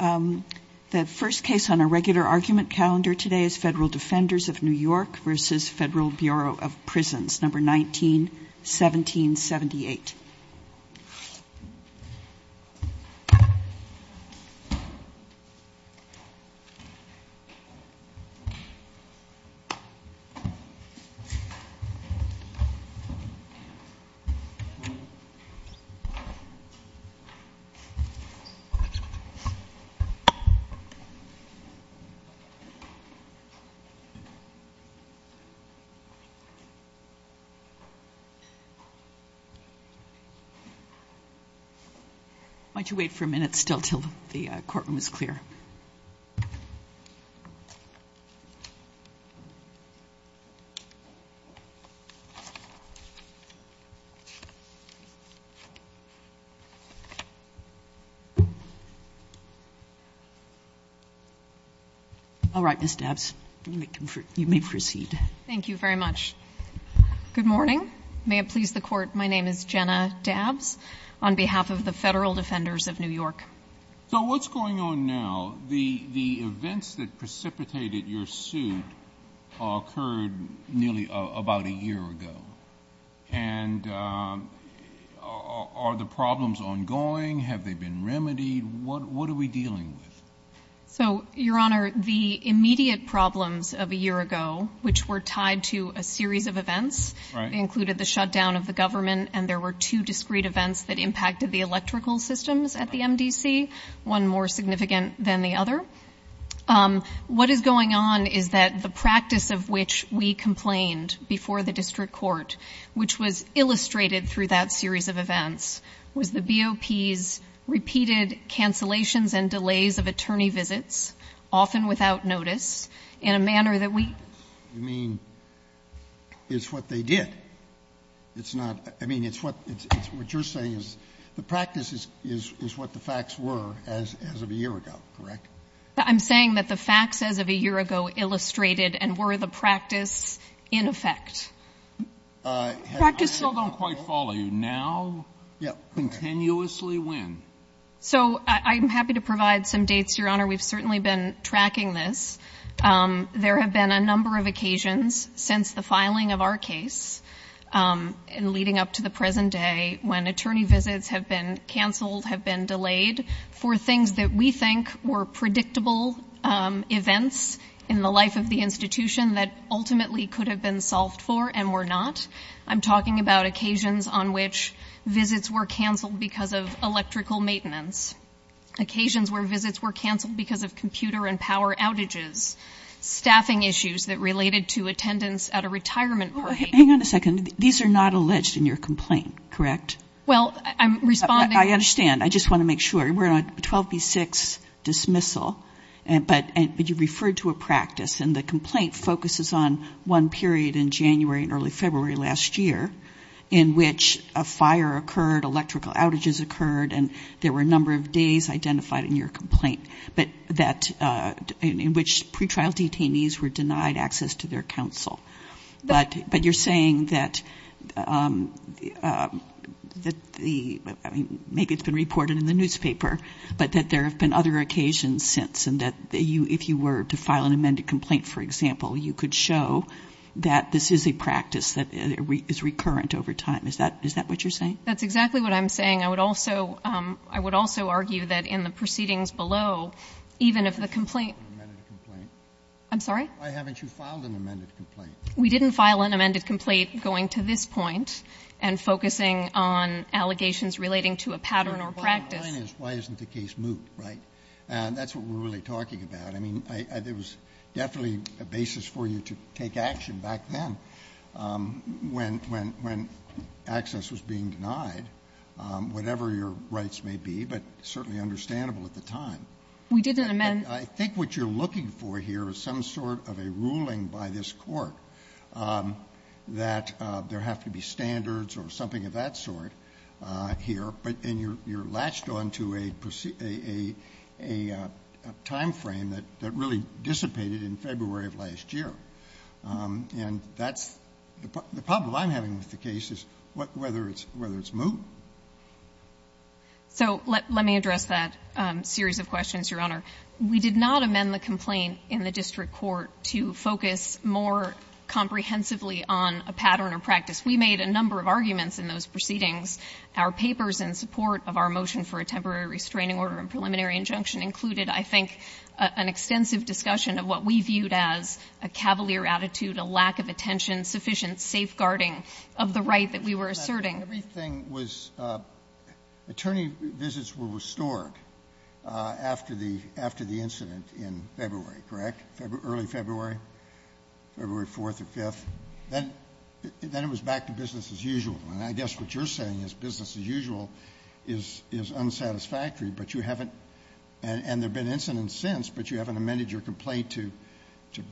The first case on a regular argument calendar today is Federal Defenders of New York versus Federal Bureau of Prisons, number 191778. Why don't you wait for a minute still until the courtroom is clear. All right, Ms. Dabbs, you may proceed. Thank you very much. Good morning. May it please the Court, my name is Jenna Dabbs on behalf of the Federal Defenders of New York. So what's going on now? The events that precipitated your suit occurred nearly about a year ago. And are the problems ongoing? Have they been remedied? What are we dealing with? So, Your Honor, the immediate problems of a year ago, which were tied to a series of events, included the shutdown of the government and there were two discrete events that impacted the electrical systems at the MDC, one more significant than the other. What is going on is that the practice of which we complained before the district court, which was illustrated through that series of events, was the BOP's repeated cancellations and delays of attorney visits, often without notice, in a manner that we You mean it's what they did? It's not, I mean, it's what you're saying is the practice is what the facts were as of a year ago, correct? I'm saying that the facts as of a year ago illustrated and were the practice in effect. I still don't quite follow you. Now, continuously when? So I'm happy to provide some dates, Your Honor. We've certainly been tracking this. There have been a number of occasions since the filing of our case and leading up to the present day when attorney visits have been canceled, have been delayed for things that we think were predictable events in the life of the institution that ultimately could have been solved for and were not. I'm talking about occasions on which visits were canceled because of electrical maintenance, occasions where visits were canceled because of computer and power outages, staffing issues that related to attendance at a retirement party. Hang on a second. These are not alleged in your complaint, correct? Well, I'm responding. I understand. I just want to make sure. We're on a 12B6 dismissal, but you referred to a practice, and the complaint focuses on one period in January and early February last year in which a fire occurred, electrical outages occurred, and there were a number of days identified in your complaint, in which pretrial detainees were denied access to their counsel. But you're saying that maybe it's been reported in the newspaper, but that there have been other occasions since, and that if you were to file an amended complaint, for example, you could show that this is a practice that is recurrent over time. Is that what you're saying? That's exactly what I'm saying. I would also argue that in the proceedings below, even if the complaint ‑‑ Why haven't you filed an amended complaint? I'm sorry? We didn't file an amended complaint going to this point and focusing on allegations relating to a pattern or practice. The bottom line is why isn't the case moot, right? That's what we're really talking about. I mean, there was definitely a basis for you to take action back then when access was being denied, whatever your rights may be, but certainly understandable at the time. We didn't amend ‑‑ I think what you're looking for here is some sort of a ruling by this Court that there have to be standards or something of that sort here, and you're latched on to a timeframe that really dissipated in February of last year. And that's ‑‑ the problem I'm having with the case is whether it's moot. So let me address that series of questions, Your Honor. We did not amend the complaint in the district court to focus more comprehensively on a pattern or practice. We made a number of arguments in those proceedings. Our papers in support of our motion for a temporary restraining order and preliminary injunction included, I think, an extensive discussion of what we viewed as a cavalier attitude, a lack of attention, sufficient safeguarding of the right that we were asserting. Everything was ‑‑ attorney visits were restored after the incident in February, correct, early February, February 4th or 5th. Then it was back to business as usual. And I guess what you're saying is business as usual is unsatisfactory, but you haven't ‑‑ and there have been incidents since, but you haven't amended your complaint to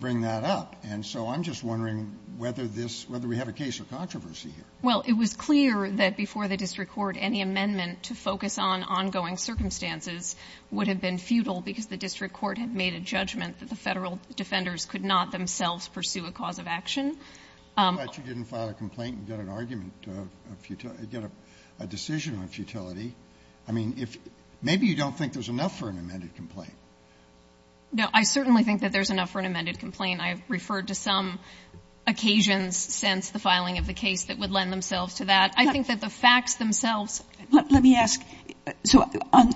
bring that up. And so I'm just wondering whether this ‑‑ whether we have a case of controversy Well, it was clear that before the district court any amendment to focus on ongoing circumstances would have been futile because the district court had made a judgment that the Federal defenders could not themselves pursue a cause of action. I'm glad you didn't file a complaint and get an argument, get a decision on futility. I mean, maybe you don't think there's enough for an amended complaint. No, I certainly think that there's enough for an amended complaint. I've referred to some occasions since the filing of the case that would lend themselves to that. I think that the facts themselves Let me ask, so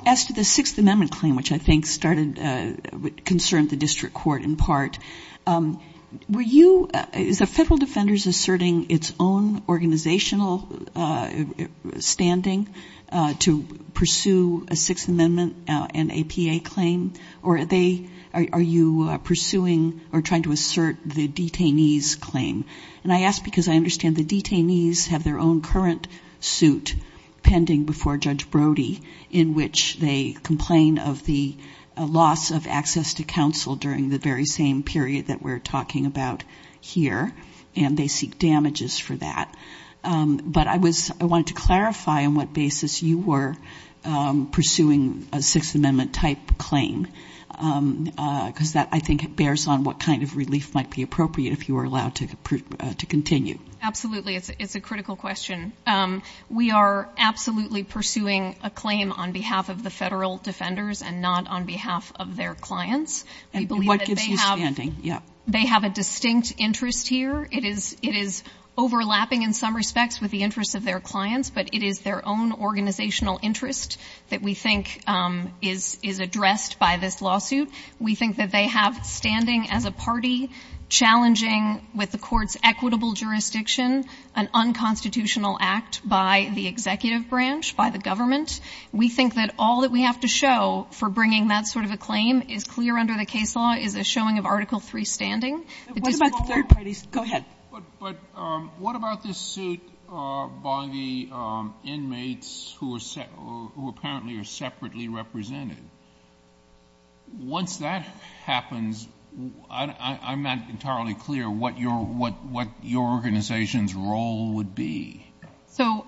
as to the Sixth Amendment claim, which I think started ‑‑ concerned the district court in part, were you, is the Federal defenders asserting its own organizational standing to pursue a Sixth Amendment and APA claim, or are you pursuing or trying to assert the detainee's claim? And I ask because I understand the detainees have their own current suit pending before Judge Brody in which they complain of the loss of access to counsel during the very same period that we're talking about here, and they seek damages for that. But I wanted to clarify on what basis you were pursuing a Sixth Amendment type claim because that, I think, bears on what kind of relief might be appropriate if you were allowed to continue. Absolutely. It's a critical question. We are absolutely pursuing a claim on behalf of the Federal defenders and not on behalf of their clients. And what gives you standing? They have a distinct interest here. It is overlapping in some respects with the interests of their clients, but it is their own organizational interest that we think is addressed by this lawsuit. We think that they have standing as a party challenging, with the Court's equitable jurisdiction, an unconstitutional act by the executive branch, by the government. We think that all that we have to show for bringing that sort of a claim is clear under the case law is a showing of Article III standing. What about the third parties? Go ahead. But what about this suit by the inmates who apparently are separately represented? Once that happens, I'm not entirely clear what your organization's role would be. So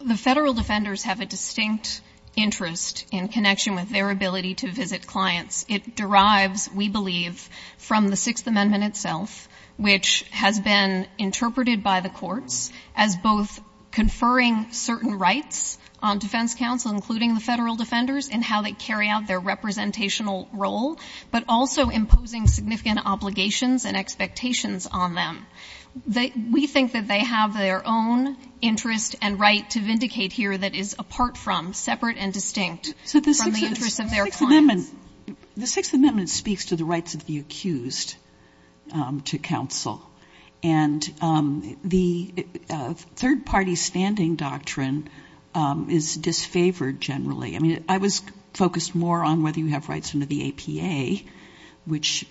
the Federal defenders have a distinct interest in connection with their ability to visit clients. It derives, we believe, from the Sixth Amendment itself, which has been interpreted by the courts as both conferring certain rights on defense counsel, including the Federal defenders, and how they carry out their representational role, but also imposing significant obligations and expectations on them. We think that they have their own interest and right to vindicate here that is apart The Sixth Amendment speaks to the rights of the accused to counsel. And the third-party standing doctrine is disfavored generally. I mean, I was focused more on whether you have rights under the APA, which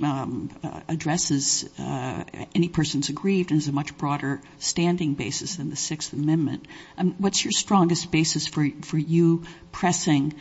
addresses any person who's aggrieved and is a much broader standing basis than the Sixth Amendment. What's your strongest basis for you pressing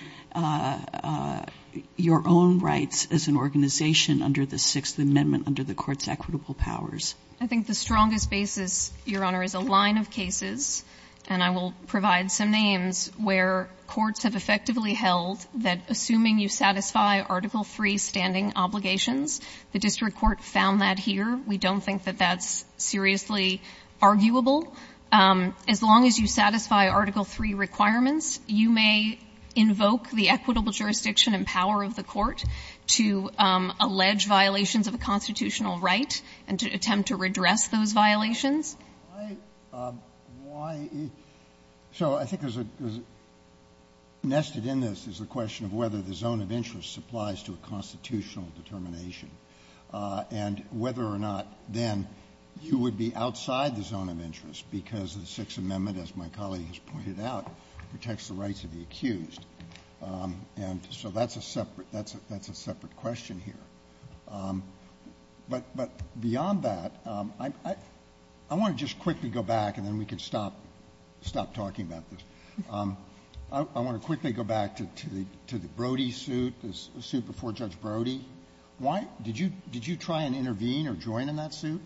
your own rights as an organization under the Sixth Amendment under the Court's equitable powers? I think the strongest basis, Your Honor, is a line of cases, and I will provide some names where courts have effectively held that assuming you satisfy Article III standing obligations, the district court found that here. We don't think that that's seriously arguable. As long as you satisfy Article III requirements, you may invoke the equitable jurisdiction and power of the court to allege violations of a constitutional right and to attempt to redress those violations. So I think there's a question of whether the zone of interest applies to a constitutional the Sixth Amendment, as my colleague has pointed out, protects the rights of the accused. And so that's a separate question here. But beyond that, I want to just quickly go back, and then we can stop talking about this. I want to quickly go back to the Brody suit, the suit before Judge Brody. Why? Did you try and intervene or join in that suit?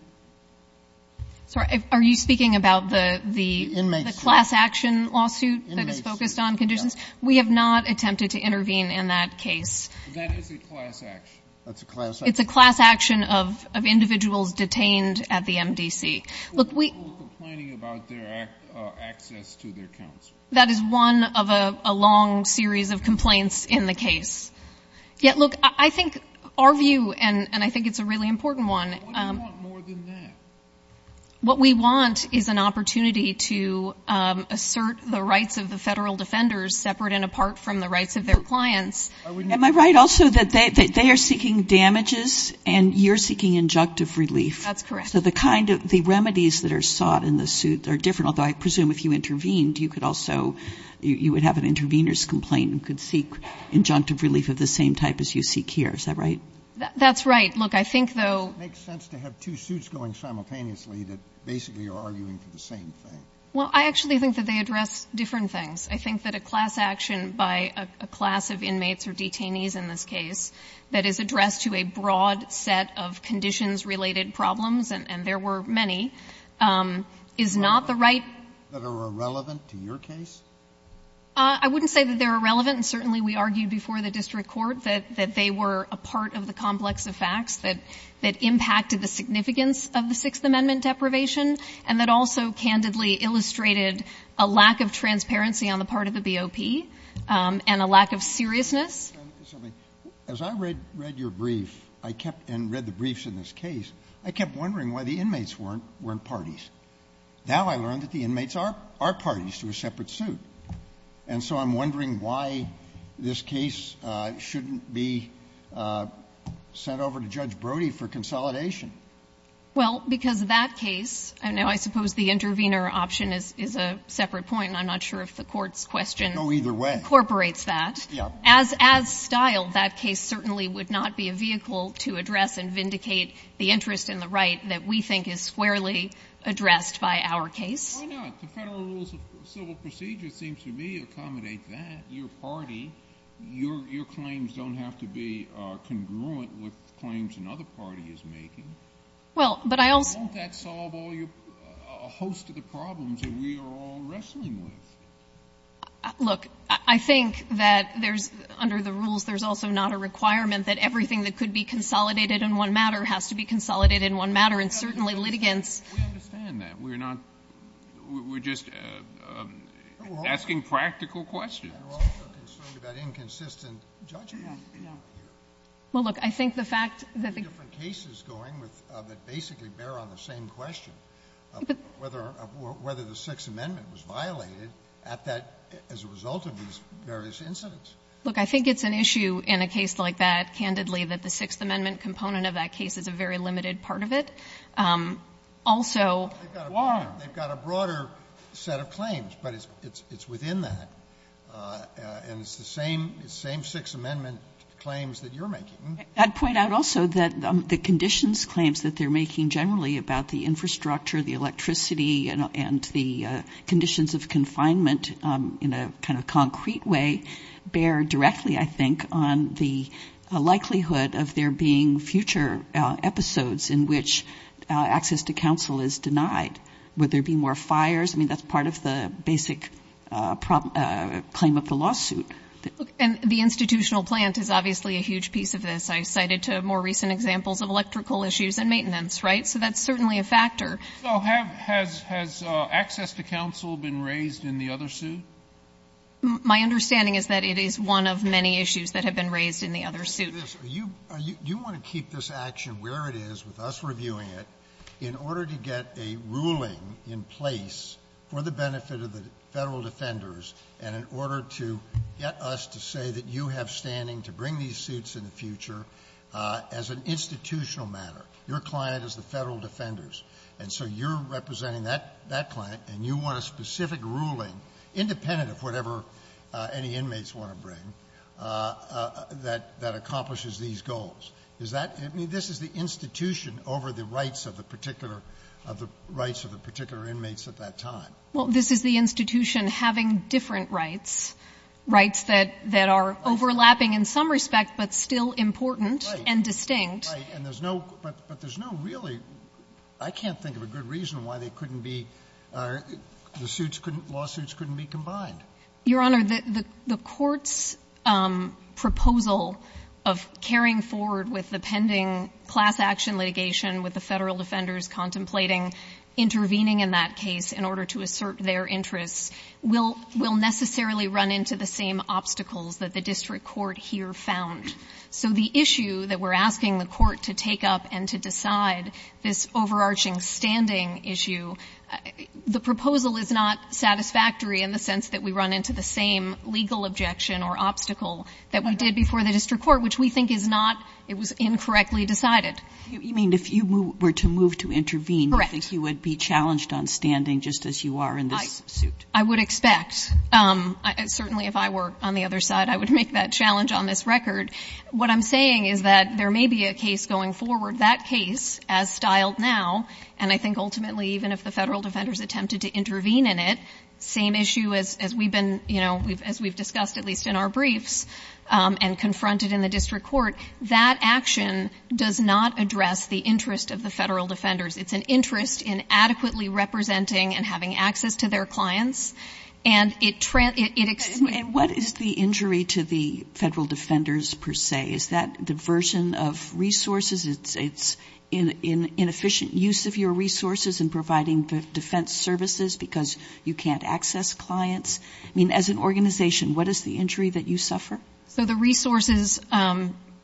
Sorry. Are you speaking about the class action lawsuit that is focused on conditions? We have not attempted to intervene in that case. That is a class action. It's a class action of individuals detained at the MDC. We're complaining about their access to their counsel. That is one of a long series of complaints in the case. Yet, look, I think our view, and I think it's a really important one. But what do you want more than that? What we want is an opportunity to assert the rights of the federal defenders separate and apart from the rights of their clients. Am I right also that they are seeking damages and you're seeking injunctive relief? That's correct. So the remedies that are sought in the suit are different, although I presume if you intervened, you could also have an intervener's complaint and could seek injunctive relief of the same type as you seek here. Is that right? That's right. Look, I think, though ---- It makes sense to have two suits going simultaneously that basically are arguing for the same thing. Well, I actually think that they address different things. I think that a class action by a class of inmates or detainees in this case that is addressed to a broad set of conditions-related problems, and there were many, is not the right ---- That are irrelevant to your case? I wouldn't say that they're irrelevant. And certainly we argued before the district court that they were a part of the complex of facts that impacted the significance of the Sixth Amendment deprivation and that also candidly illustrated a lack of transparency on the part of the BOP and a lack of seriousness. As I read your brief and read the briefs in this case, I kept wondering why the inmates weren't parties. Now I learned that the inmates are parties to a separate suit, and so I'm wondering why this case shouldn't be sent over to Judge Brody for consolidation. Well, because that case ---- Now, I suppose the intervener option is a separate point, and I'm not sure if the Court's question incorporates that. No, either way. Yes. As styled, that case certainly would not be a vehicle to address and vindicate the interest in the right that we think is squarely addressed by our case. Why not? The Federal Rules of Civil Procedure seems to me accommodate that. Your party, your claims don't have to be congruent with claims another party is making. Well, but I also ---- Won't that solve a host of the problems that we are all wrestling with? Look, I think that there's under the rules there's also not a requirement that everything that could be consolidated in one matter has to be consolidated in one matter, and certainly litigants ---- We understand that. We're not ---- we're just asking practical questions. We're also concerned about inconsistent judgment here. No, no. Well, look, I think the fact that the ---- There are different cases going that basically bear on the same question, whether the Sixth Amendment was violated at that as a result of these various incidents. Look, I think it's an issue in a case like that, candidly, that the Sixth Amendment component of that case is a very limited part of it. Also ---- They've got a broader set of claims, but it's within that. And it's the same Sixth Amendment claims that you're making. I'd point out also that the conditions claims that they're making generally about the infrastructure, the electricity, and the conditions of confinement in a kind of concrete way bear directly, I think, on the likelihood of there being future episodes in which access to counsel is denied. Would there be more fires? I mean, that's part of the basic claim of the lawsuit. And the institutional plant is obviously a huge piece of this. I cited more recent examples of electrical issues and maintenance, right? So that's certainly a factor. So has access to counsel been raised in the other suit? My understanding is that it is one of many issues that have been raised in the other suit. You want to keep this action where it is with us reviewing it in order to get a ruling in place for the benefit of the Federal defenders and in order to get us to say that you have standing to bring these suits in the future as an institutional matter. Your client is the Federal defenders. And so you're representing that client, and you want a specific ruling, independent of whatever any inmates want to bring, that accomplishes these goals. Is that the institution over the rights of the particular inmates at that time? Well, this is the institution having different rights, rights that are overlapping in some respect but still important and distinct. Right. But there's no really – I can't think of a good reason why they couldn't be – the lawsuits couldn't be combined. Your Honor, the Court's proposal of carrying forward with the pending class action litigation with the Federal defenders contemplating intervening in that case in order to assert their interests will necessarily run into the same obstacles that the district court here found. So the issue that we're asking the Court to take up and to decide, this overarching standing issue, the proposal is not satisfactory in the sense that we run into the same legal objection or obstacle that we did before the district court, which we think is not – it was incorrectly decided. You mean if you were to move to intervene, you think you would be challenged on standing just as you are in this suit? I would expect. Certainly if I were on the other side, I would make that challenge on this record. What I'm saying is that there may be a case going forward. That case, as styled now, and I think ultimately even if the Federal defenders attempted to intervene in it, same issue as we've been – as we've discussed at least in our briefs and confronted in the district court, that action does not address the interest of the Federal defenders. It's an interest in adequately representing and having access to their clients. And it – And what is the injury to the Federal defenders per se? Is that diversion of resources? It's inefficient use of your resources in providing defense services because you can't access clients? I mean, as an organization, what is the injury that you suffer? So the resources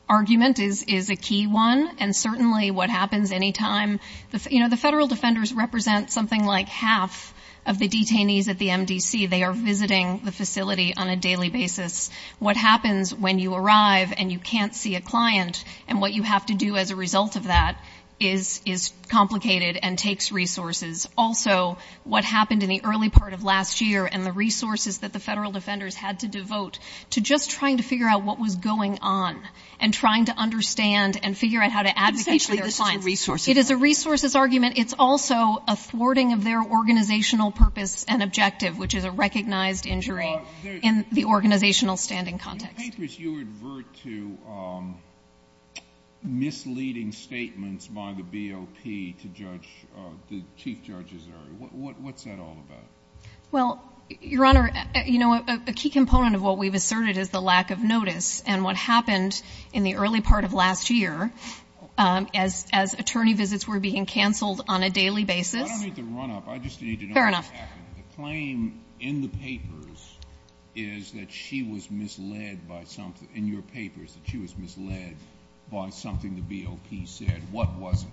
argument is a key one. And certainly what happens any time – you know, the Federal defenders represent something like half of the detainees at the MDC. They are visiting the facility on a daily basis. What happens when you arrive and you can't see a client? And what you have to do as a result of that is – is complicated and takes resources. Also, what happened in the early part of last year and the resources that the Federal defenders had to devote to just trying to figure out what was going on and trying to understand and figure out how to advocate for their clients. Essentially, this is a resources argument. It is a resources argument. It's also a thwarting of their organizational purpose and objective, which is a recognized injury in the organizational standing context. In the papers, you advert to misleading statements by the BOP to judge – the chief judges. What's that all about? Well, Your Honor, you know, a key component of what we've asserted is the lack of notice. And what happened in the early part of last year, as attorney visits were being canceled on a daily basis – I don't need to run up. I just need to know what's happening. Fair enough. The claim in the papers is that she was misled by something – in your papers that she was misled by something the BOP said. What was it?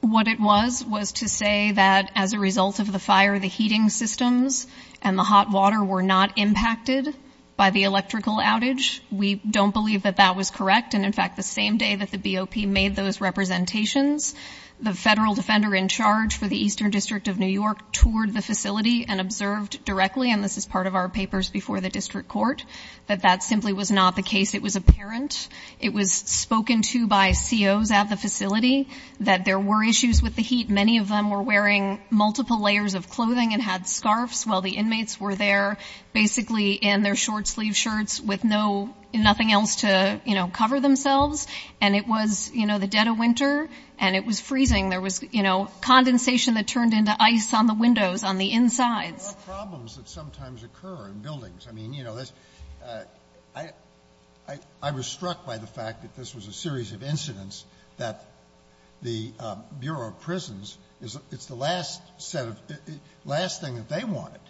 What it was was to say that as a result of the fire, the heating systems and the hot water were not impacted by the electrical outage. We don't believe that that was correct. And in fact, the same day that the BOP made those representations, the Federal defender in charge for the Eastern District of New York toured the facility and observed directly – and this is part of our papers before the district court – that that simply was not the case. It was apparent. It was spoken to by COs at the facility that there were issues with the heat. Many of them were wearing multiple layers of clothing and had scarves while the inmates were there, basically in their short-sleeved shirts with no – nothing else to, you know, cover themselves. And it was, you know, the dead of winter, and it was freezing. There was, you know, condensation that turned into ice on the windows, on the insides. There are problems that sometimes occur in buildings. I mean, you know, this – I was struck by the fact that this was a series of incidents that the Bureau of Prisons – it's the last set of – last thing that they wanted,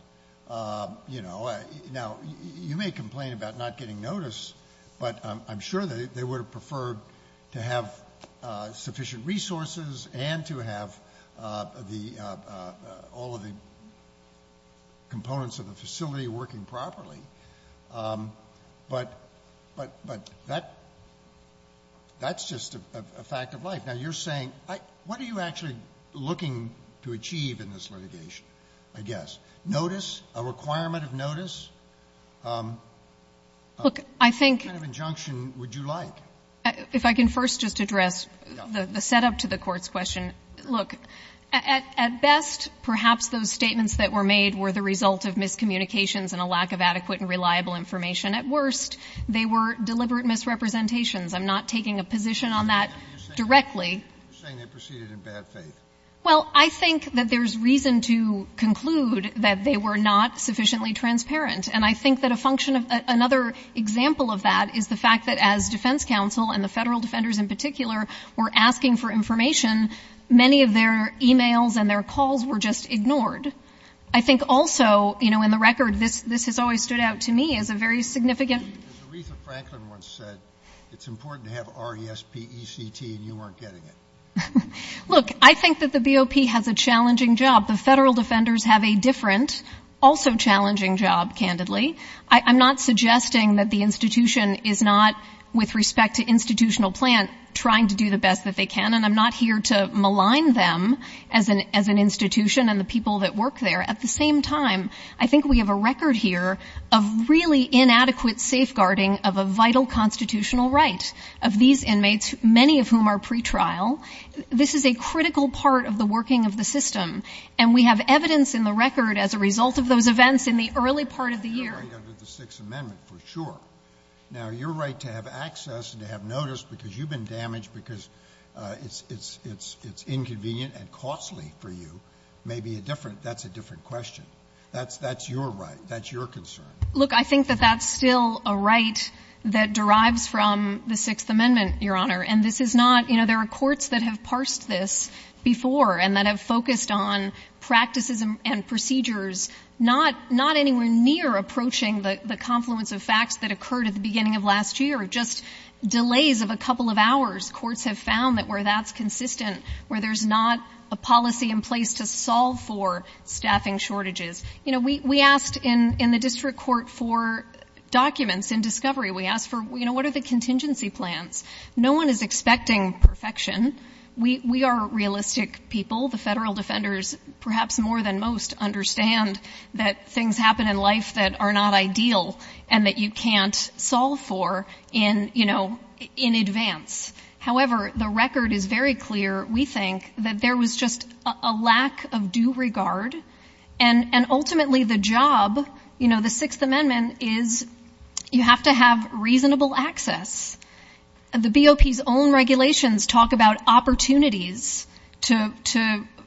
you know. Now, you may complain about not getting notice, but I'm sure they would have preferred to have sufficient resources and to have the – all of the components of the facility working properly. But that's just a fact of life. Now, you're saying – what are you actually looking to achieve in this litigation, I guess? Notice? A requirement of notice? Look, I think – What kind of injunction would you like? If I can first just address the setup to the Court's question. Look, at best, perhaps those statements that were made were the result of miscommunications and a lack of adequate and reliable information. At worst, they were deliberate misrepresentations. I'm not taking a position on that directly. You're saying they proceeded in bad faith. Well, I think that there's reason to conclude that they were not sufficiently transparent. And I think that a function of – another example of that is the fact that as Defense Counsel and the Federal Defenders in particular were asking for information, many of their emails and their calls were just ignored. I think also, you know, in the record, this has always stood out to me as a very significant – Because Aretha Franklin once said it's important to have R-E-S-P-E-C-T and you weren't getting it. Look, I think that the BOP has a challenging job. The Federal Defenders have a different, also challenging job, candidly. I'm not suggesting that the institution is not, with respect to institutional plan, trying to do the best that they can. And I'm not here to malign them as an institution and the people that work there. At the same time, I think we have a record here of really inadequate safeguarding of a vital constitutional right of these inmates, many of whom are pretrial. This is a critical part of the working of the system. And we have evidence in the record as a result of those events in the early part of the year. Now, you're right to have access and to have notice because you've been damaged because it's – it's – it's inconvenient and costly for you. Maybe a different – that's a different question. That's – that's your right. That's your concern. Look, I think that that's still a right that derives from the Sixth Amendment, Your Honor. And this is not – you know, there are courts that have parsed this before and that have focused on practices and procedures, not – not anywhere near approaching the confluence of facts that occurred at the beginning of last year, just delays of a couple of hours. Courts have found that where that's consistent, where there's not a policy in place to solve for staffing shortages. You know, we asked in the district court for documents in discovery. We asked for, you know, what are the contingency plans? No one is expecting perfection. We are realistic people. The federal defenders, perhaps more than most, understand that things happen in life that are not ideal and that you can't solve for in, you know, in advance. However, the record is very clear. We think that there was just a lack of due regard. And ultimately, the job, you know, the Sixth Amendment is you have to have – the BOP's own regulations talk about opportunities to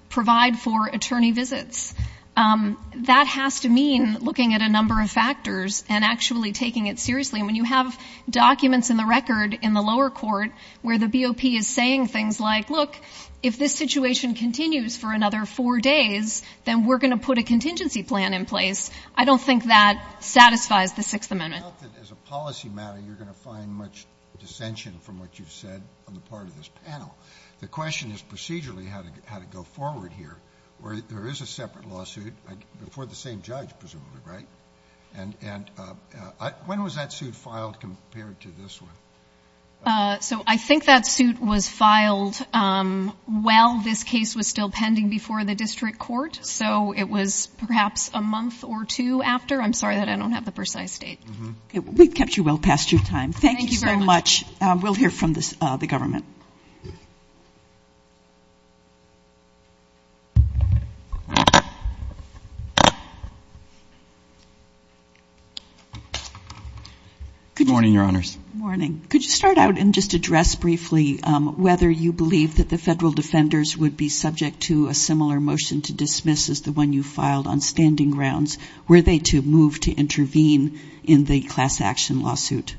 provide for attorney visits. That has to mean looking at a number of factors and actually taking it seriously. And when you have documents in the record in the lower court where the BOP is saying things like, look, if this situation continues for another four days, then we're going to put a contingency plan in place. I don't think that satisfies the Sixth Amendment. I doubt that as a policy matter you're going to find much dissension from what you've said on the part of this panel. The question is procedurally how to go forward here. There is a separate lawsuit before the same judge, presumably, right? And when was that suit filed compared to this one? So I think that suit was filed while this case was still pending before the district court. So it was perhaps a month or two after. I'm sorry that I don't have the precise date. Okay. We've kept you well past your time. Thank you so much. Thank you very much. We'll hear from the government. Good morning, Your Honors. Good morning. Could you start out and just address briefly whether you believe that the federal defenders would be subject to a similar motion to dismiss as the one you filed on standing grounds? Were they to move to intervene in the class action lawsuit?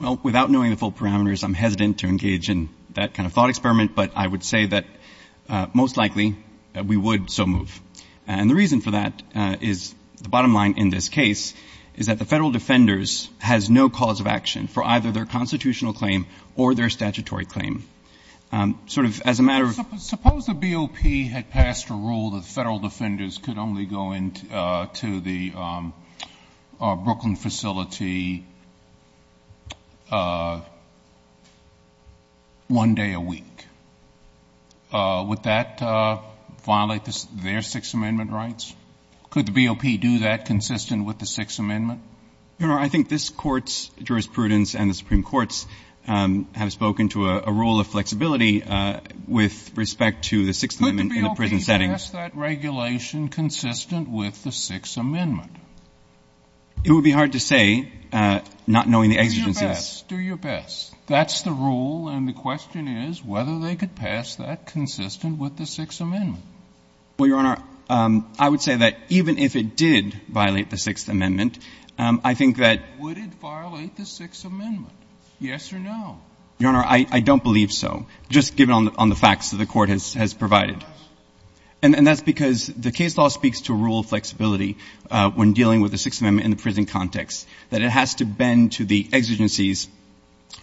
Well, without knowing the full parameters, I'm hesitant to engage in that kind of thought experiment. But I would say that most likely we would so move. And the reason for that is the bottom line in this case is that the federal defenders has no cause of action for either their constitutional claim or their statutory claim. Sort of as a matter of ---- the federal defenders could only go into the Brooklyn facility one day a week. Would that violate their Sixth Amendment rights? Could the BOP do that consistent with the Sixth Amendment? Your Honor, I think this Court's jurisprudence and the Supreme Court's have spoken to a rule of flexibility with respect to the Sixth Amendment in the case. Would that violate the Sixth Amendment? Just given on the facts that the Court has provided. And that's the rule. And the question is whether they could pass that consistent with the Sixth Amendment. Well, Your Honor, I would say that even if it did violate the Sixth Amendment, I think that ---- Would it violate the Sixth Amendment? Yes or no? Your Honor, I don't believe so. Just given on the facts that the Court has provided. And that's because the case law speaks to rule of flexibility when dealing with the Sixth Amendment in the prison context, that it has to bend to the exigencies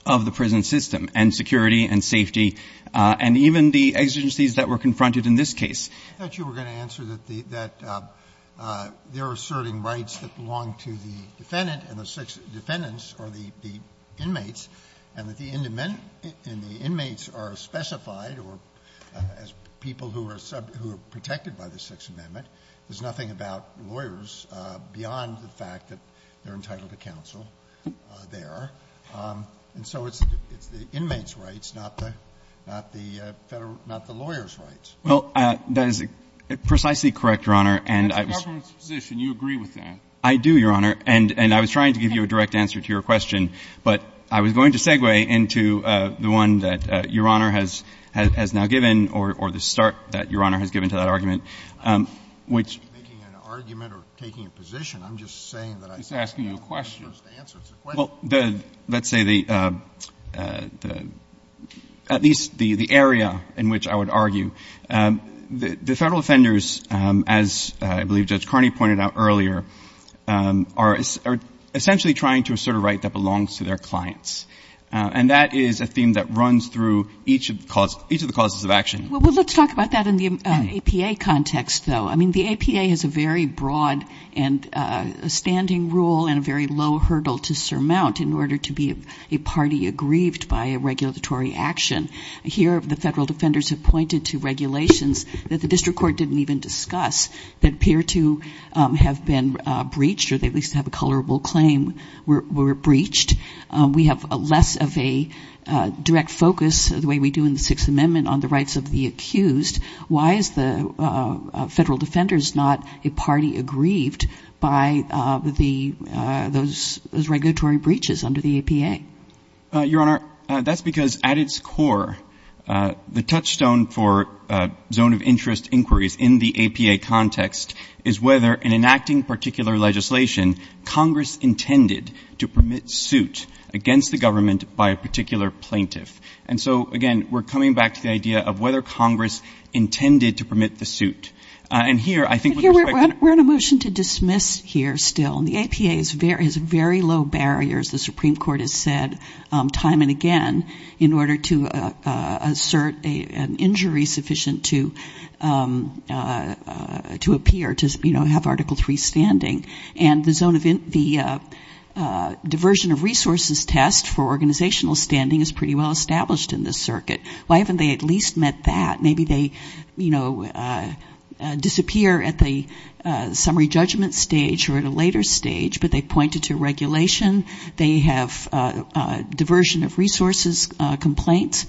of the prison system and security and safety, and even the exigencies that were confronted in this case. I thought you were going to answer that the ---- that they're asserting rights that belong to the defendant and the defendants are the inmates, and that the ---- And the inmates are specified or as people who are protected by the Sixth Amendment, there's nothing about lawyers beyond the fact that they're entitled to counsel there. And so it's the inmates' rights, not the federal ---- not the lawyers' rights. Well, that is precisely correct, Your Honor. And I was ---- It's the government's position. You agree with that. I do, Your Honor. And I was trying to give you a direct answer to your question. But I was going to segue into the one that Your Honor has now given or the start that Your Honor has given to that argument, which ---- I'm not making an argument or taking a position. I'm just saying that I ---- He's asking you a question. I'm not supposed to answer. It's a question. Well, the ---- let's say the ---- at least the area in which I would argue. The federal offenders, as I believe Judge Carney pointed out earlier, are essentially trying to assert a right that belongs to their clients. And that is a theme that runs through each of the causes of action. Well, let's talk about that in the APA context, though. I mean, the APA has a very broad and a standing rule and a very low hurdle to surmount in order to be a party aggrieved by a regulatory action. Here, the federal defenders have pointed to regulations that the district court that appear to have been breached or at least have a colorable claim were breached. We have less of a direct focus, the way we do in the Sixth Amendment, on the rights of the accused. Why is the federal defenders not a party aggrieved by the ---- those regulatory breaches under the APA? Your Honor, that's because at its core, the touchstone for zone of interest inquiries in the APA context is whether in enacting particular legislation, Congress intended to permit suit against the government by a particular plaintiff. And so, again, we're coming back to the idea of whether Congress intended to permit the suit. And here, I think with respect to ---- We're in a motion to dismiss here still. And the APA has very low barriers, the Supreme Court has said time and again, in order to assert an injury sufficient to appear, to have Article III standing. And the diversion of resources test for organizational standing is pretty well established in this circuit. Why haven't they at least met that? Maybe they, you know, disappear at the summary judgment stage or at a later stage, but they pointed to regulation. They have diversion of resources complaints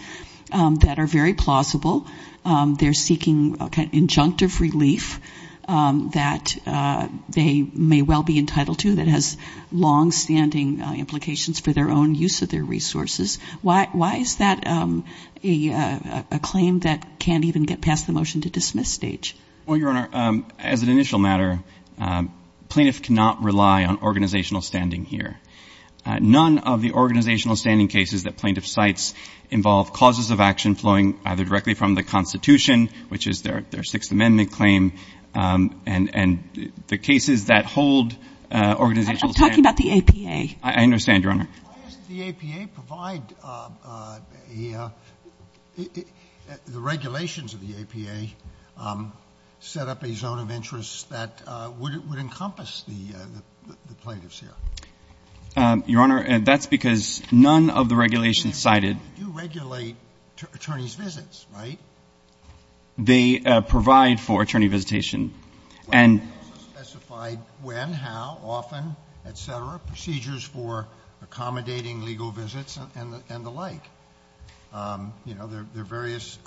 that are very plausible. They're seeking injunctive relief that they may well be entitled to, that has longstanding implications for their own use of their resources. Why is that a claim that can't even get past the motion to dismiss stage? Well, Your Honor, as an initial matter, plaintiff cannot rely on organizational standing here. None of the organizational standing cases that plaintiff cites involve causes of action flowing either directly from the Constitution, which is their Sixth Amendment claim, and the cases that hold organizational standing. I'm talking about the APA. I understand, Your Honor. Why doesn't the APA provide a — the regulations of the APA set up a zone of interest that would encompass the plaintiffs here? Your Honor, that's because none of the regulations cited — They do regulate attorneys' visits, right? They provide for attorney visitation. They also specify when, how, often, et cetera, procedures for accommodating legal visits and the like. You know, there are various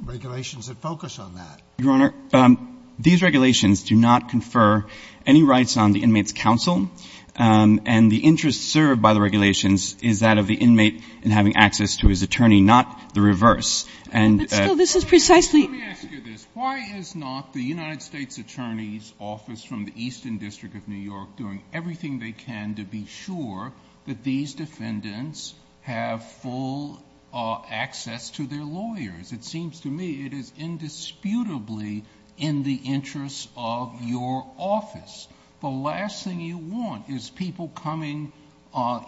regulations that focus on that. Your Honor, these regulations do not confer any rights on the inmate's counsel, and the interest served by the regulations is that of the inmate in having access to his attorney, not the reverse. But still, this is precisely — Let me ask you this. Why is not the United States Attorney's Office from the Eastern District of New York doing everything they can to be sure that these defendants have full access to their lawyers? It seems to me it is indisputably in the interest of your office. The last thing you want is people coming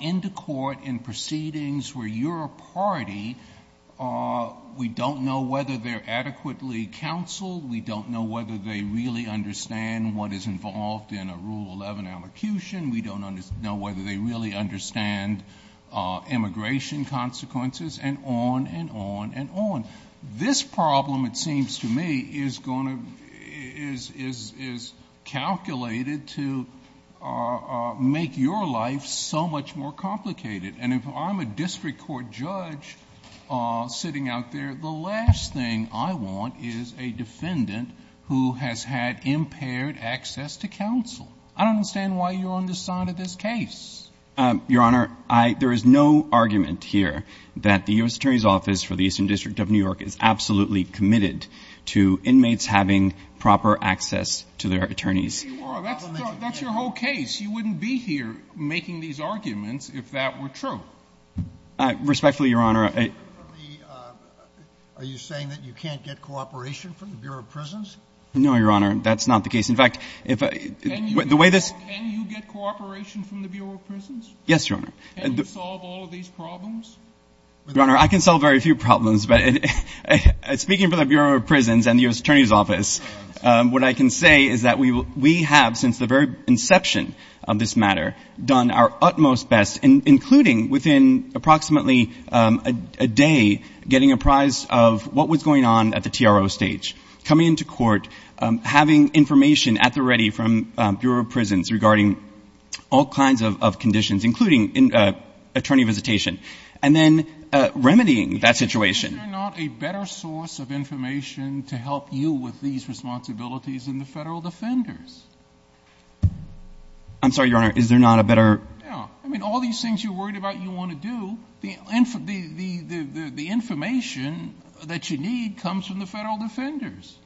into court in proceedings where you're a party. We don't know whether they're adequately counseled. We don't know whether they really understand what is involved in a Rule 11 allocution. We don't know whether they really understand immigration consequences, and on and on and on. This problem, it seems to me, is calculated to make your life so much more complicated. And if I'm a district court judge sitting out there, the last thing I want is a defendant who has had impaired access to counsel. I don't understand why you're on this side of this case. Your Honor, there is no argument here that the U.S. Attorney's Office for the Eastern District of New York is absolutely committed to inmates having proper access to their attorneys. That's your whole case. I guess you wouldn't be here making these arguments if that were true. Respectfully, Your Honor, I — Are you saying that you can't get cooperation from the Bureau of Prisons? No, Your Honor, that's not the case. In fact, the way this — Can you get cooperation from the Bureau of Prisons? Yes, Your Honor. Can you solve all of these problems? What I can say is that we have, since the very inception of this matter, done our utmost best, including within approximately a day, getting a prize of what was going on at the TRO stage, coming into court, having information at the ready from Bureau of Prisons regarding all kinds of conditions, including attorney visitation, and then remedying that situation. Is there not a better source of information to help you with these responsibilities than the Federal Defenders? I'm sorry, Your Honor. Is there not a better — Yeah. I mean, all these things you're worried about you want to do. The information that you need comes from the Federal Defenders.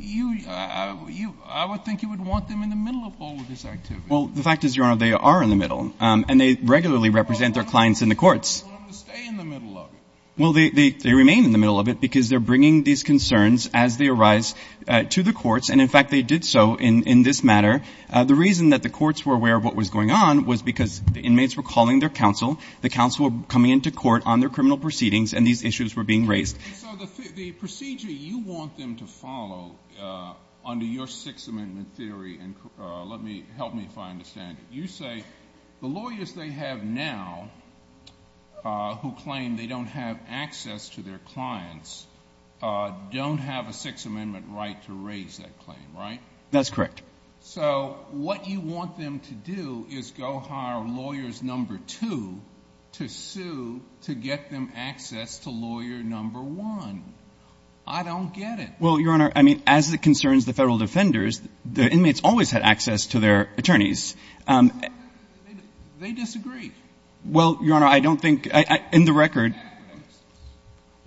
I would think you would want them in the middle of all of this activity. Well, the fact is, Your Honor, they are in the middle, and they regularly represent their clients in the courts. Well, I want them to stay in the middle of it. Well, they remain in the middle of it because they're bringing these concerns as they arise to the courts, and, in fact, they did so in this matter. The reason that the courts were aware of what was going on was because the inmates were calling their counsel, the counsel were coming into court on their criminal proceedings, and these issues were being raised. And so the procedure you want them to follow under your Sixth Amendment theory, and help me if I understand it, you say the lawyers they have now who claim they don't have access to their clients don't have a Sixth Amendment right to raise that claim, right? That's correct. So what you want them to do is go hire lawyers number two to sue to get them access to lawyer number one. I don't get it. Well, Your Honor, I mean, as it concerns the Federal defenders, the inmates always had access to their attorneys. They disagree. Well, Your Honor, I don't think ‑‑ in the record ‑‑ They disagree.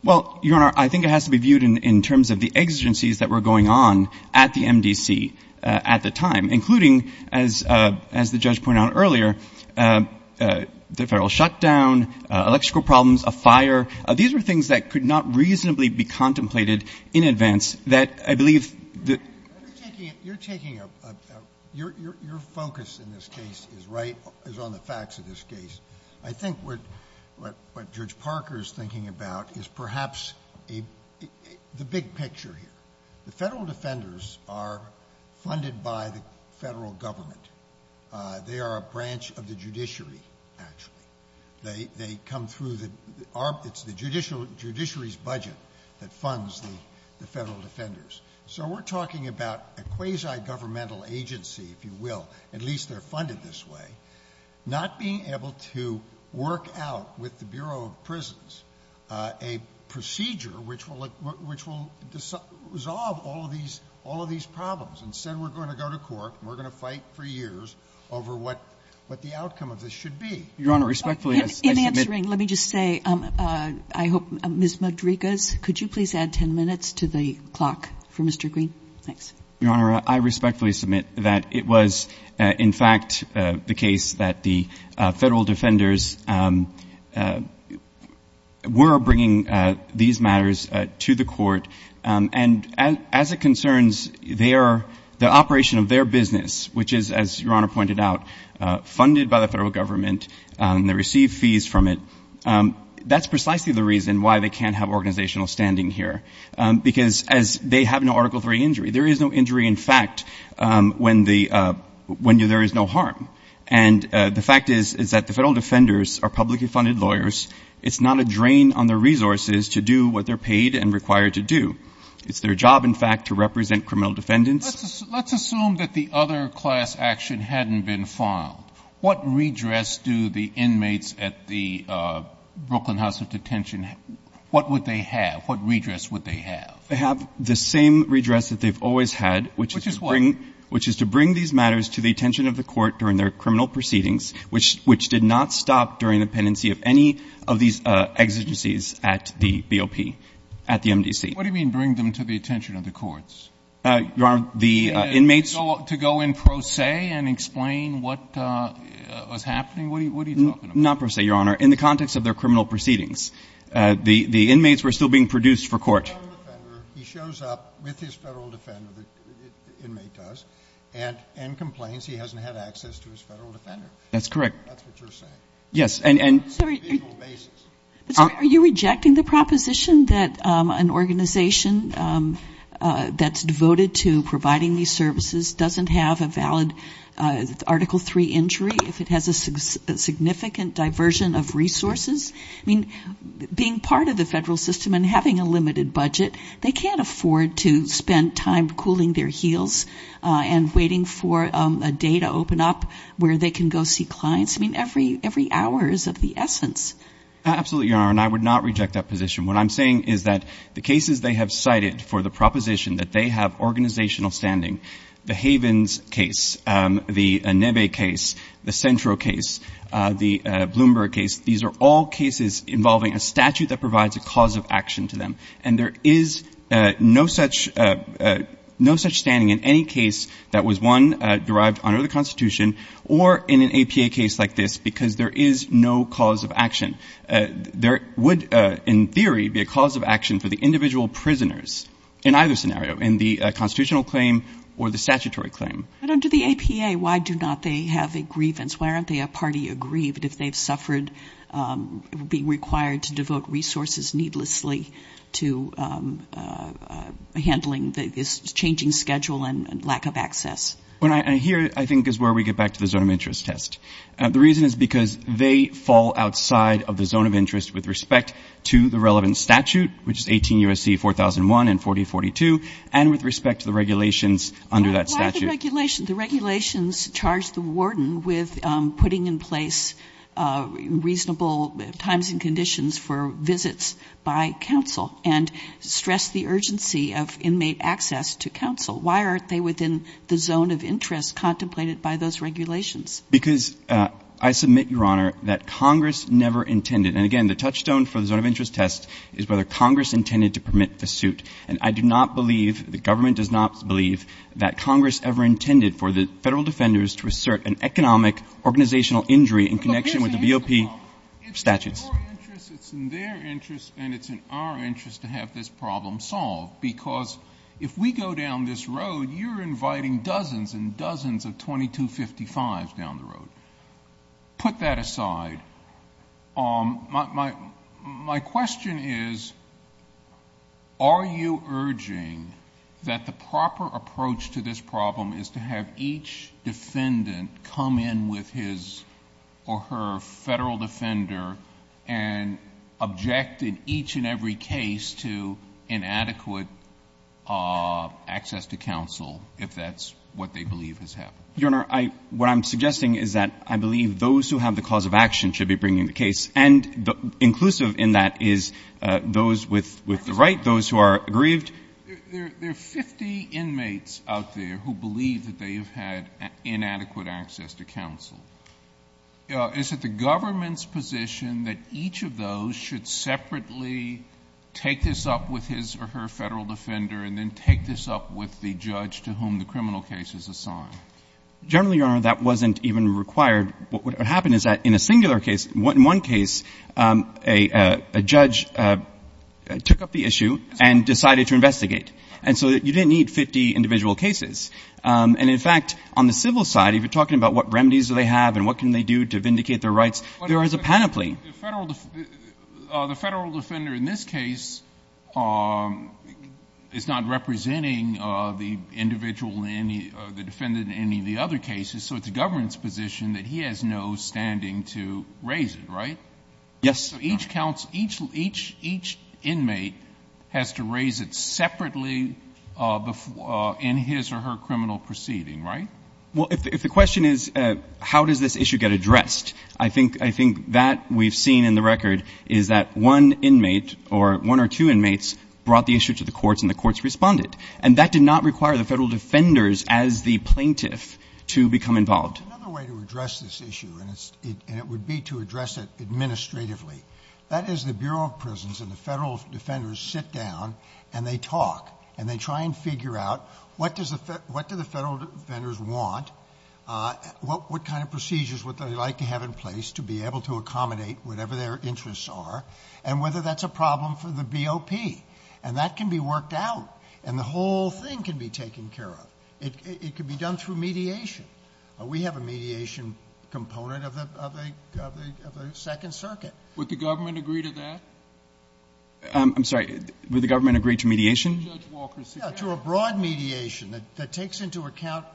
Well, Your Honor, I think it has to be viewed in terms of the exigencies that were going on at the MDC at the time, including, as the judge pointed out earlier, the Federal shutdown, electrical problems, a fire. These were things that could not reasonably be contemplated in advance that I believe that ‑‑ You're taking a ‑‑ your focus in this case is right ‑‑ is on the facts of this case. I think what Judge Parker is thinking about is perhaps the big picture here. The Federal defenders are funded by the Federal government. They are a branch of the judiciary, actually. They come through the ‑‑ it's the judiciary's budget that funds the Federal defenders. So we're talking about a quasi-governmental agency, if you will. At least they're funded this way. Not being able to work out with the Bureau of Prisons a procedure which will resolve all of these problems. Instead, we're going to go to court and we're going to fight for years over what the outcome of this should be. Your Honor, respectfully, I submit ‑‑ In answering, let me just say, I hope ‑‑ Ms. Rodriguez, could you please add ten minutes to the clock for Mr. Green? Thanks. Your Honor, I respectfully submit that it was, in fact, the case that the Federal defenders were bringing these matters to the court. And as it concerns the operation of their business, which is, as Your Honor pointed out, funded by the Federal government, they receive fees from it, that's precisely the reason why they can't have organizational standing here. Because they have no Article III injury. There is no injury, in fact, when there is no harm. And the fact is that the Federal defenders are publicly funded lawyers. It's not a drain on their resources to do what they're paid and required to do. It's their job, in fact, to represent criminal defendants. Let's assume that the other class action hadn't been filed. What redress do the inmates at the Brooklyn House of Detention, what would they have? What redress would they have? They have the same redress that they've always had. Which is what? Which is to bring these matters to the attention of the court during their criminal proceedings, which did not stop during the pendency of any of these exigencies at the BOP, at the MDC. What do you mean, bring them to the attention of the courts? Your Honor, the inmates. To go in pro se and explain what was happening? What are you talking about? Not pro se, Your Honor. In the context of their criminal proceedings. The inmates were still being produced for court. He shows up with his Federal defender, the inmate does, and complains he hasn't had access to his Federal defender. That's correct. That's what you're saying. Yes. Sorry. On a legal basis. Are you rejecting the proposition that an organization that's devoted to providing these services doesn't have a valid Article III injury if it has a significant diversion of resources? I mean, being part of the Federal system and having a limited budget, they can't afford to spend time cooling their heels and waiting for a day to open up where they can go see clients. I mean, every hour is of the essence. Absolutely, Your Honor, and I would not reject that position. What I'm saying is that the cases they have cited for the proposition that they have organizational standing, the Havens case, the Neve case, the Centro case, the Bloomberg case, these are all cases involving a statute that provides a cause of action to them. And there is no such standing in any case that was, one, derived under the Constitution or in an APA case like this because there is no cause of action. There would, in theory, be a cause of action for the individual prisoners in either scenario, in the constitutional claim or the statutory claim. But under the APA, why do not they have a grievance? Why aren't they a party aggrieved if they've suffered being required to devote resources needlessly to handling this changing schedule and lack of access? And here, I think, is where we get back to the zone of interest test. The reason is because they fall outside of the zone of interest with respect to the relevant statute, which is 18 U.S.C. 4001 and 4042, and with respect to the regulations under that statute. Kagan. The regulations charge the warden with putting in place reasonable times and conditions for visits by counsel and stress the urgency of inmate access to counsel. Why aren't they within the zone of interest contemplated by those regulations? Because I submit, Your Honor, that Congress never intended. And again, the touchstone for the zone of interest test is whether Congress intended to permit the suit. And I do not believe, the government does not believe that Congress ever intended for the Federal defenders to assert an economic organizational injury in connection with the VOP statutes. It's in your interest, it's in their interest, and it's in our interest to have this problem solved, because if we go down this road, you're inviting dozens and dozens of 2255s down the road. Put that aside. My question is, are you urging that the proper approach to this problem is to have each defendant come in with his or her Federal defender and object in each and every case to inadequate access to counsel, if that's what they believe has happened? Your Honor, what I'm suggesting is that I believe those who have the cause of action should be bringing the case. And inclusive in that is those with the right, those who are aggrieved. There are 50 inmates out there who believe that they have had inadequate access to counsel. Is it the government's position that each of those should separately take this up with his or her Federal defender and then take this up with the judge to whom the criminal case is assigned? Generally, Your Honor, that wasn't even required. What happened is that in a singular case, in one case, a judge took up the issue and decided to investigate. And so you didn't need 50 individual cases. And, in fact, on the civil side, if you're talking about what remedies do they have and what can they do to vindicate their rights, there is a panoply. And so it's not the defendant in any of the other cases. So it's the government's position that he has no standing to raise it, right? Yes, Your Honor. So each inmate has to raise it separately in his or her criminal proceeding, right? Well, if the question is how does this issue get addressed, I think that we've seen in the record is that one inmate or one or two inmates brought the issue to the courts and the courts responded. And that did not require the federal defenders as the plaintiff to become involved. Another way to address this issue, and it would be to address it administratively, that is the Bureau of Prisons and the federal defenders sit down and they talk and they try and figure out what do the federal defenders want, what kind of procedures would they like to have in place to be able to accommodate whatever their interests are, and whether that's a problem for the BOP. And that can be worked out. And the whole thing can be taken care of. It can be done through mediation. We have a mediation component of the Second Circuit. Would the government agree to that? I'm sorry. Would the government agree to mediation? Yeah, to a broad mediation that takes into account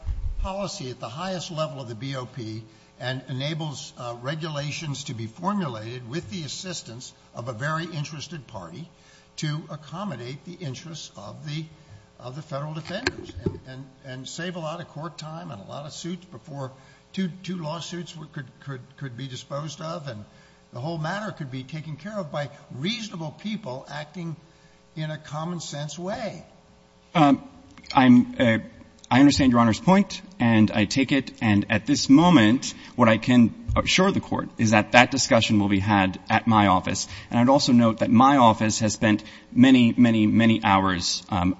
policy at the highest level of the BOP and enables regulations to be formulated with the assistance of a very broad policy of the federal defenders and save a lot of court time and a lot of suits before two lawsuits could be disposed of and the whole matter could be taken care of by reasonable people acting in a common sense way. I understand Your Honor's point and I take it. And at this moment what I can assure the Court is that that discussion will be had at my office. And I'd also note that my office has spent many, many, many hours on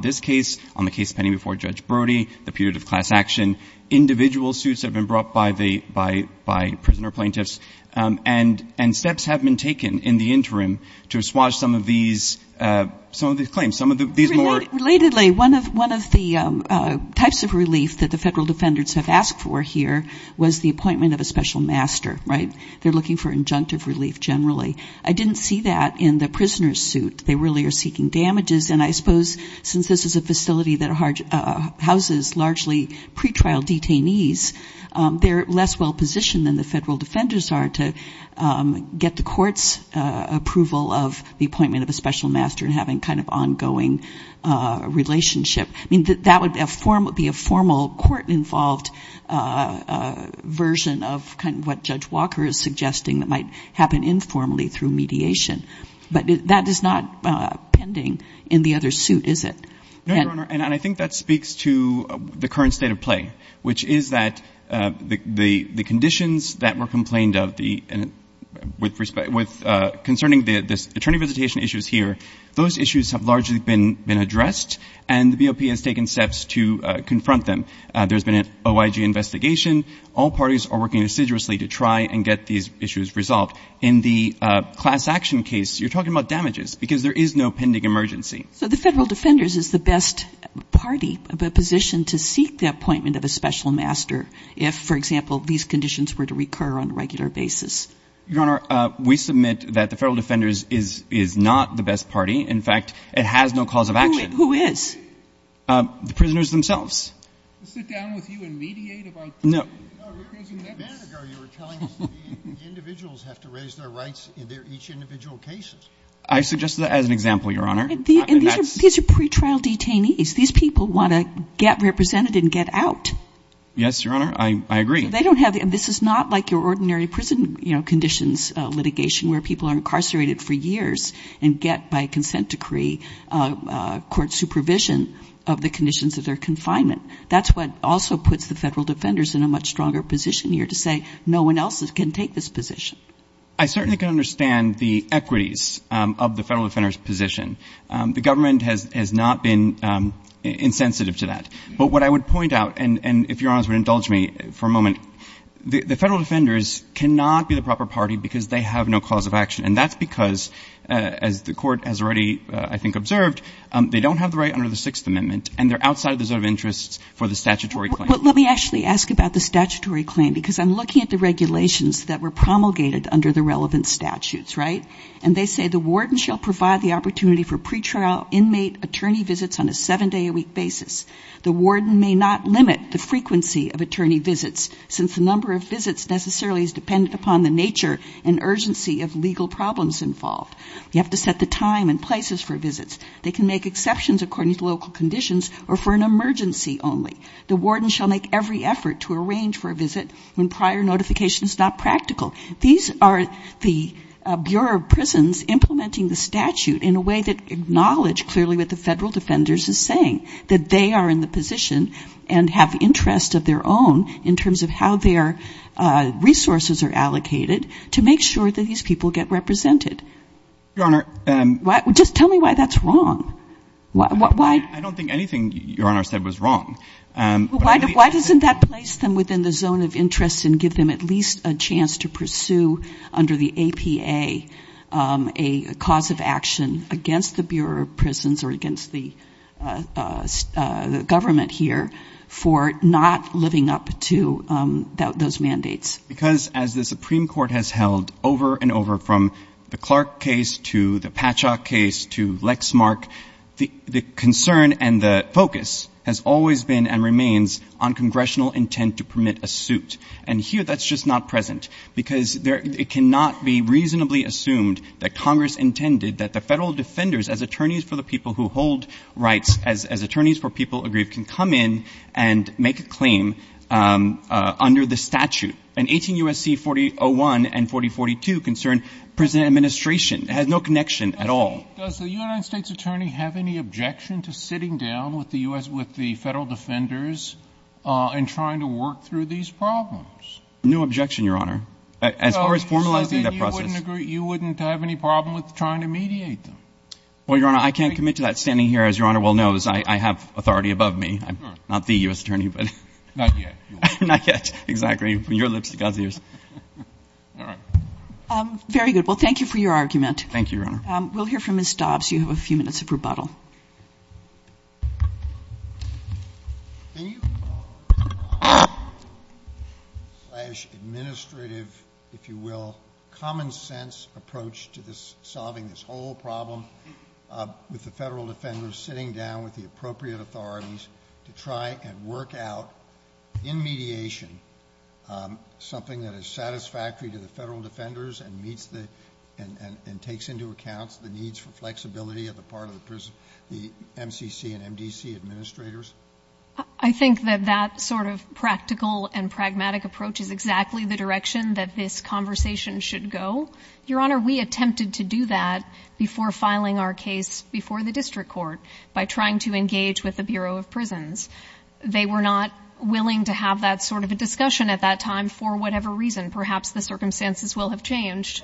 this case, on the case pending before Judge Brody, the period of class action, individual suits that have been brought by prisoner plaintiffs, and steps have been taken in the interim to assuage some of these claims. Relatedly, one of the types of relief that the federal defenders have asked for here was the appointment of a special master, right? They're looking for injunctive relief generally. I didn't see that in the prisoner's suit. They really are seeking damages. And I suppose since this is a facility that houses largely pretrial detainees, they're less well positioned than the federal defenders are to get the court's approval of the appointment of a special master and having kind of ongoing relationship. I mean, that would be a formal court-involved version of kind of what Judge Walker is suggesting that might happen informally through mediation. But that is not pending in the other suit, is it? No, Your Honor. And I think that speaks to the current state of play, which is that the conditions that were complained of concerning the attorney visitation issues here, those issues have largely been addressed, and the BOP has taken steps to confront them. There's been an OIG investigation. All parties are working assiduously to try and get these issues resolved. In the class action case, you're talking about damages because there is no pending emergency. So the federal defenders is the best party, the position to seek the appointment of a special master if, for example, these conditions were to recur on a regular basis. Your Honor, we submit that the federal defenders is not the best party. In fact, it has no cause of action. Who is? The prisoners themselves. To sit down with you and mediate about prisoners? No. A minute ago, you were telling us that the individuals have to raise their rights in their each individual cases. I suggested that as an example, Your Honor. These are pretrial detainees. These people want to get represented and get out. Yes, Your Honor. I agree. This is not like your ordinary prison conditions litigation where people are incarcerated for years and get, by consent decree, court supervision of the conditions of their confinement. That's what also puts the federal defenders in a much stronger position here to say, no one else can take this position. I certainly can understand the equities of the federal defender's position. The government has not been insensitive to that. But what I would point out, and if Your Honor would indulge me for a moment, the federal defenders cannot be the proper party because they have no cause of action. And that's because, as the court has already, I think, observed, they don't have the right under the Sixth Amendment, and they're outside the reserve interests for the statutory claim. Let me actually ask about the statutory claim because I'm looking at the regulations that were promulgated under the relevant statutes, right? And they say the warden shall provide the opportunity for pretrial inmate attorney visits on a seven-day-a-week basis. The warden may not limit the frequency of attorney visits, since the number of visits necessarily is dependent upon the nature and urgency of legal problems involved. You have to set the time and places for visits. They can make exceptions according to local conditions or for an emergency only. The warden shall make every effort to arrange for a visit when prior notification is not practical. These are the Bureau of Prisons implementing the statute in a way that acknowledges clearly what the federal defenders are saying, that they are in the position and have interest of their own in terms of how their resources are allocated to make sure that these people get represented. Your Honor. Just tell me why that's wrong. I don't think anything Your Honor said was wrong. Why doesn't that place them within the zone of interest and give them at least a chance to pursue under the APA a cause of action against the Bureau of Prisons or against the government here for not living up to those mandates? Because as the Supreme Court has held over and over, from the Clark case to the Patchak case to Lexmark, the concern and the focus has always been and remains on congressional intent to permit a suit. And here that's just not present, because it cannot be reasonably assumed that Congress intended that the federal defenders as attorneys for the people who hold rights, as attorneys for people aggrieved, can come in and make a claim under the statute. And 18 U.S.C. 4001 and 4042 concern prison administration. It has no connection at all. Does the United States attorney have any objection to sitting down with the U.S. with the federal defenders and trying to work through these problems? No objection, Your Honor, as far as formalizing that process. You wouldn't have any problem with trying to mediate them? Well, Your Honor, I can't commit to that standing here. As Your Honor well knows, I have authority above me. I'm not the U.S. attorney, but. Not yet. Not yet, exactly. From your lips to God's ears. All right. Very good. Well, thank you for your argument. Thank you, Your Honor. We'll hear from Ms. Dobbs. You have a few minutes of rebuttal. Can you? Administrative, if you will, common sense approach to this, solving this whole problem with the federal defenders, sitting down with the appropriate authorities to try and work out, in mediation, something that is satisfactory to the federal defenders and meets the, and takes into account the needs for flexibility on the part of the MCC and MDC administrators? I think that that sort of practical and pragmatic approach is exactly the direction that this conversation should go. Your Honor, we attempted to do that before filing our case before the district court by trying to engage with the Bureau of Prisons. They were not willing to have that sort of a discussion at that time for whatever reason. Perhaps the circumstances will have changed.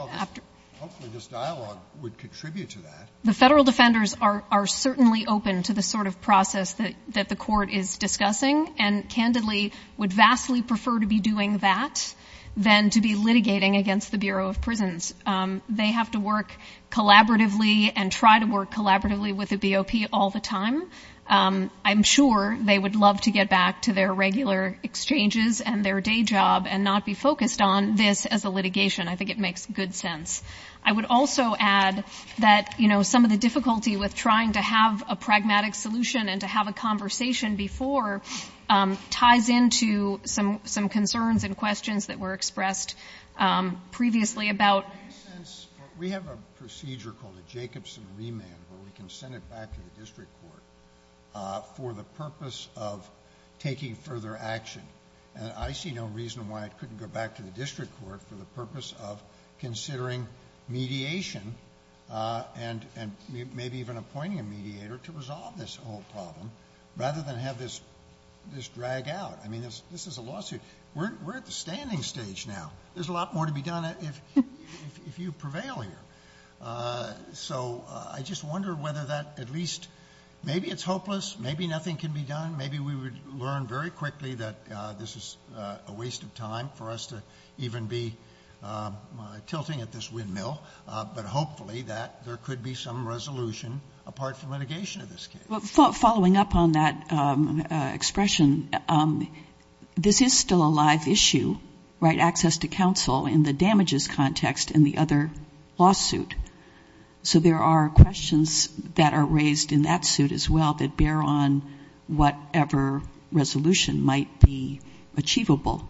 Hopefully this dialogue would contribute to that. The federal defenders are certainly open to the sort of process that the court is discussing and, candidly, would vastly prefer to be doing that than to be litigating against the Bureau of Prisons. They have to work collaboratively and try to work collaboratively with the BOP all the time. I'm sure they would love to get back to their regular exchanges and their I think it makes good sense. I would also add that, you know, some of the difficulty with trying to have a pragmatic solution and to have a conversation before ties into some concerns and questions that were expressed previously about We have a procedure called a Jacobson remand where we can send it back to the district court for the purpose of taking further action. I see no reason why it couldn't go back to the district court for the purpose of considering mediation and maybe even appointing a mediator to resolve this whole problem rather than have this drag out. I mean, this is a lawsuit. We're at the standing stage now. There's a lot more to be done if you prevail here. I just wonder whether that at least... Maybe it's hopeless. Maybe nothing can be done. Maybe we would learn very quickly that this is a waste of time for us to even be tilting at this windmill, but hopefully that there could be some resolution apart from litigation in this case. Following up on that expression, this is still a live issue, right, access to counsel in the damages context in the other lawsuit. So there are questions that are raised in that suit as well that bear on whatever resolution might be achievable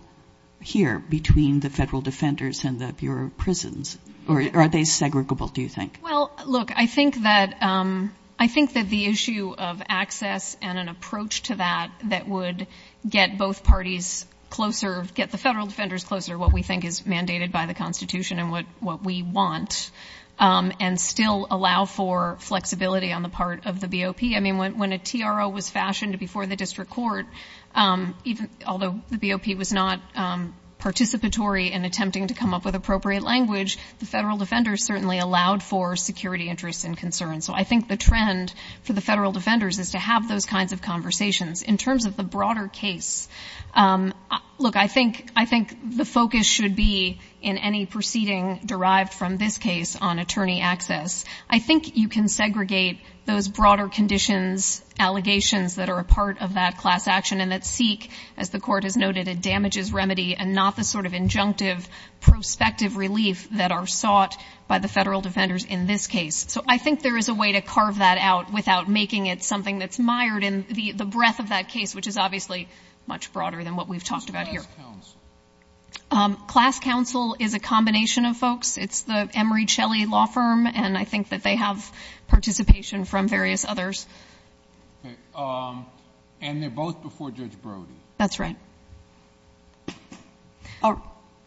here between the federal defenders and the Bureau of Prisons. Are they segregable, do you think? Well, look, I think that the issue of access and an approach to that that would get both parties closer, get the federal defenders closer to what we think is mandated by the Constitution and what we want and still allow for flexibility on the part of the BOP. I mean, when a TRO was fashioned before the district court, although the BOP was not participatory in attempting to come up with appropriate language, the federal defenders certainly allowed for security interests and concerns. So I think the trend for the federal defenders is to have those kinds of conversations. In terms of the broader case, look, I think the focus should be in any proceeding derived from this case on attorney access. I think you can segregate those broader conditions, allegations that are a part of that class action and that seek, as the Court has noted, a damages remedy and not the sort of injunctive prospective relief that are sought by the federal defenders in this case. So I think there is a way to carve that out without making it something that's mired in the breadth of that case, which is obviously much broader than what we've talked about here. Who's the class counsel? Class counsel is a combination of folks. It's the Emery Shelley Law Firm, and I think that they have participation from various others. And they're both before Judge Brody. That's right.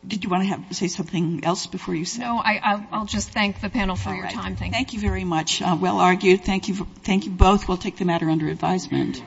Did you want to say something else before you said? No, I'll just thank the panel for your time. Thank you very much. Well argued. Thank you both. We'll take the matter under advisement.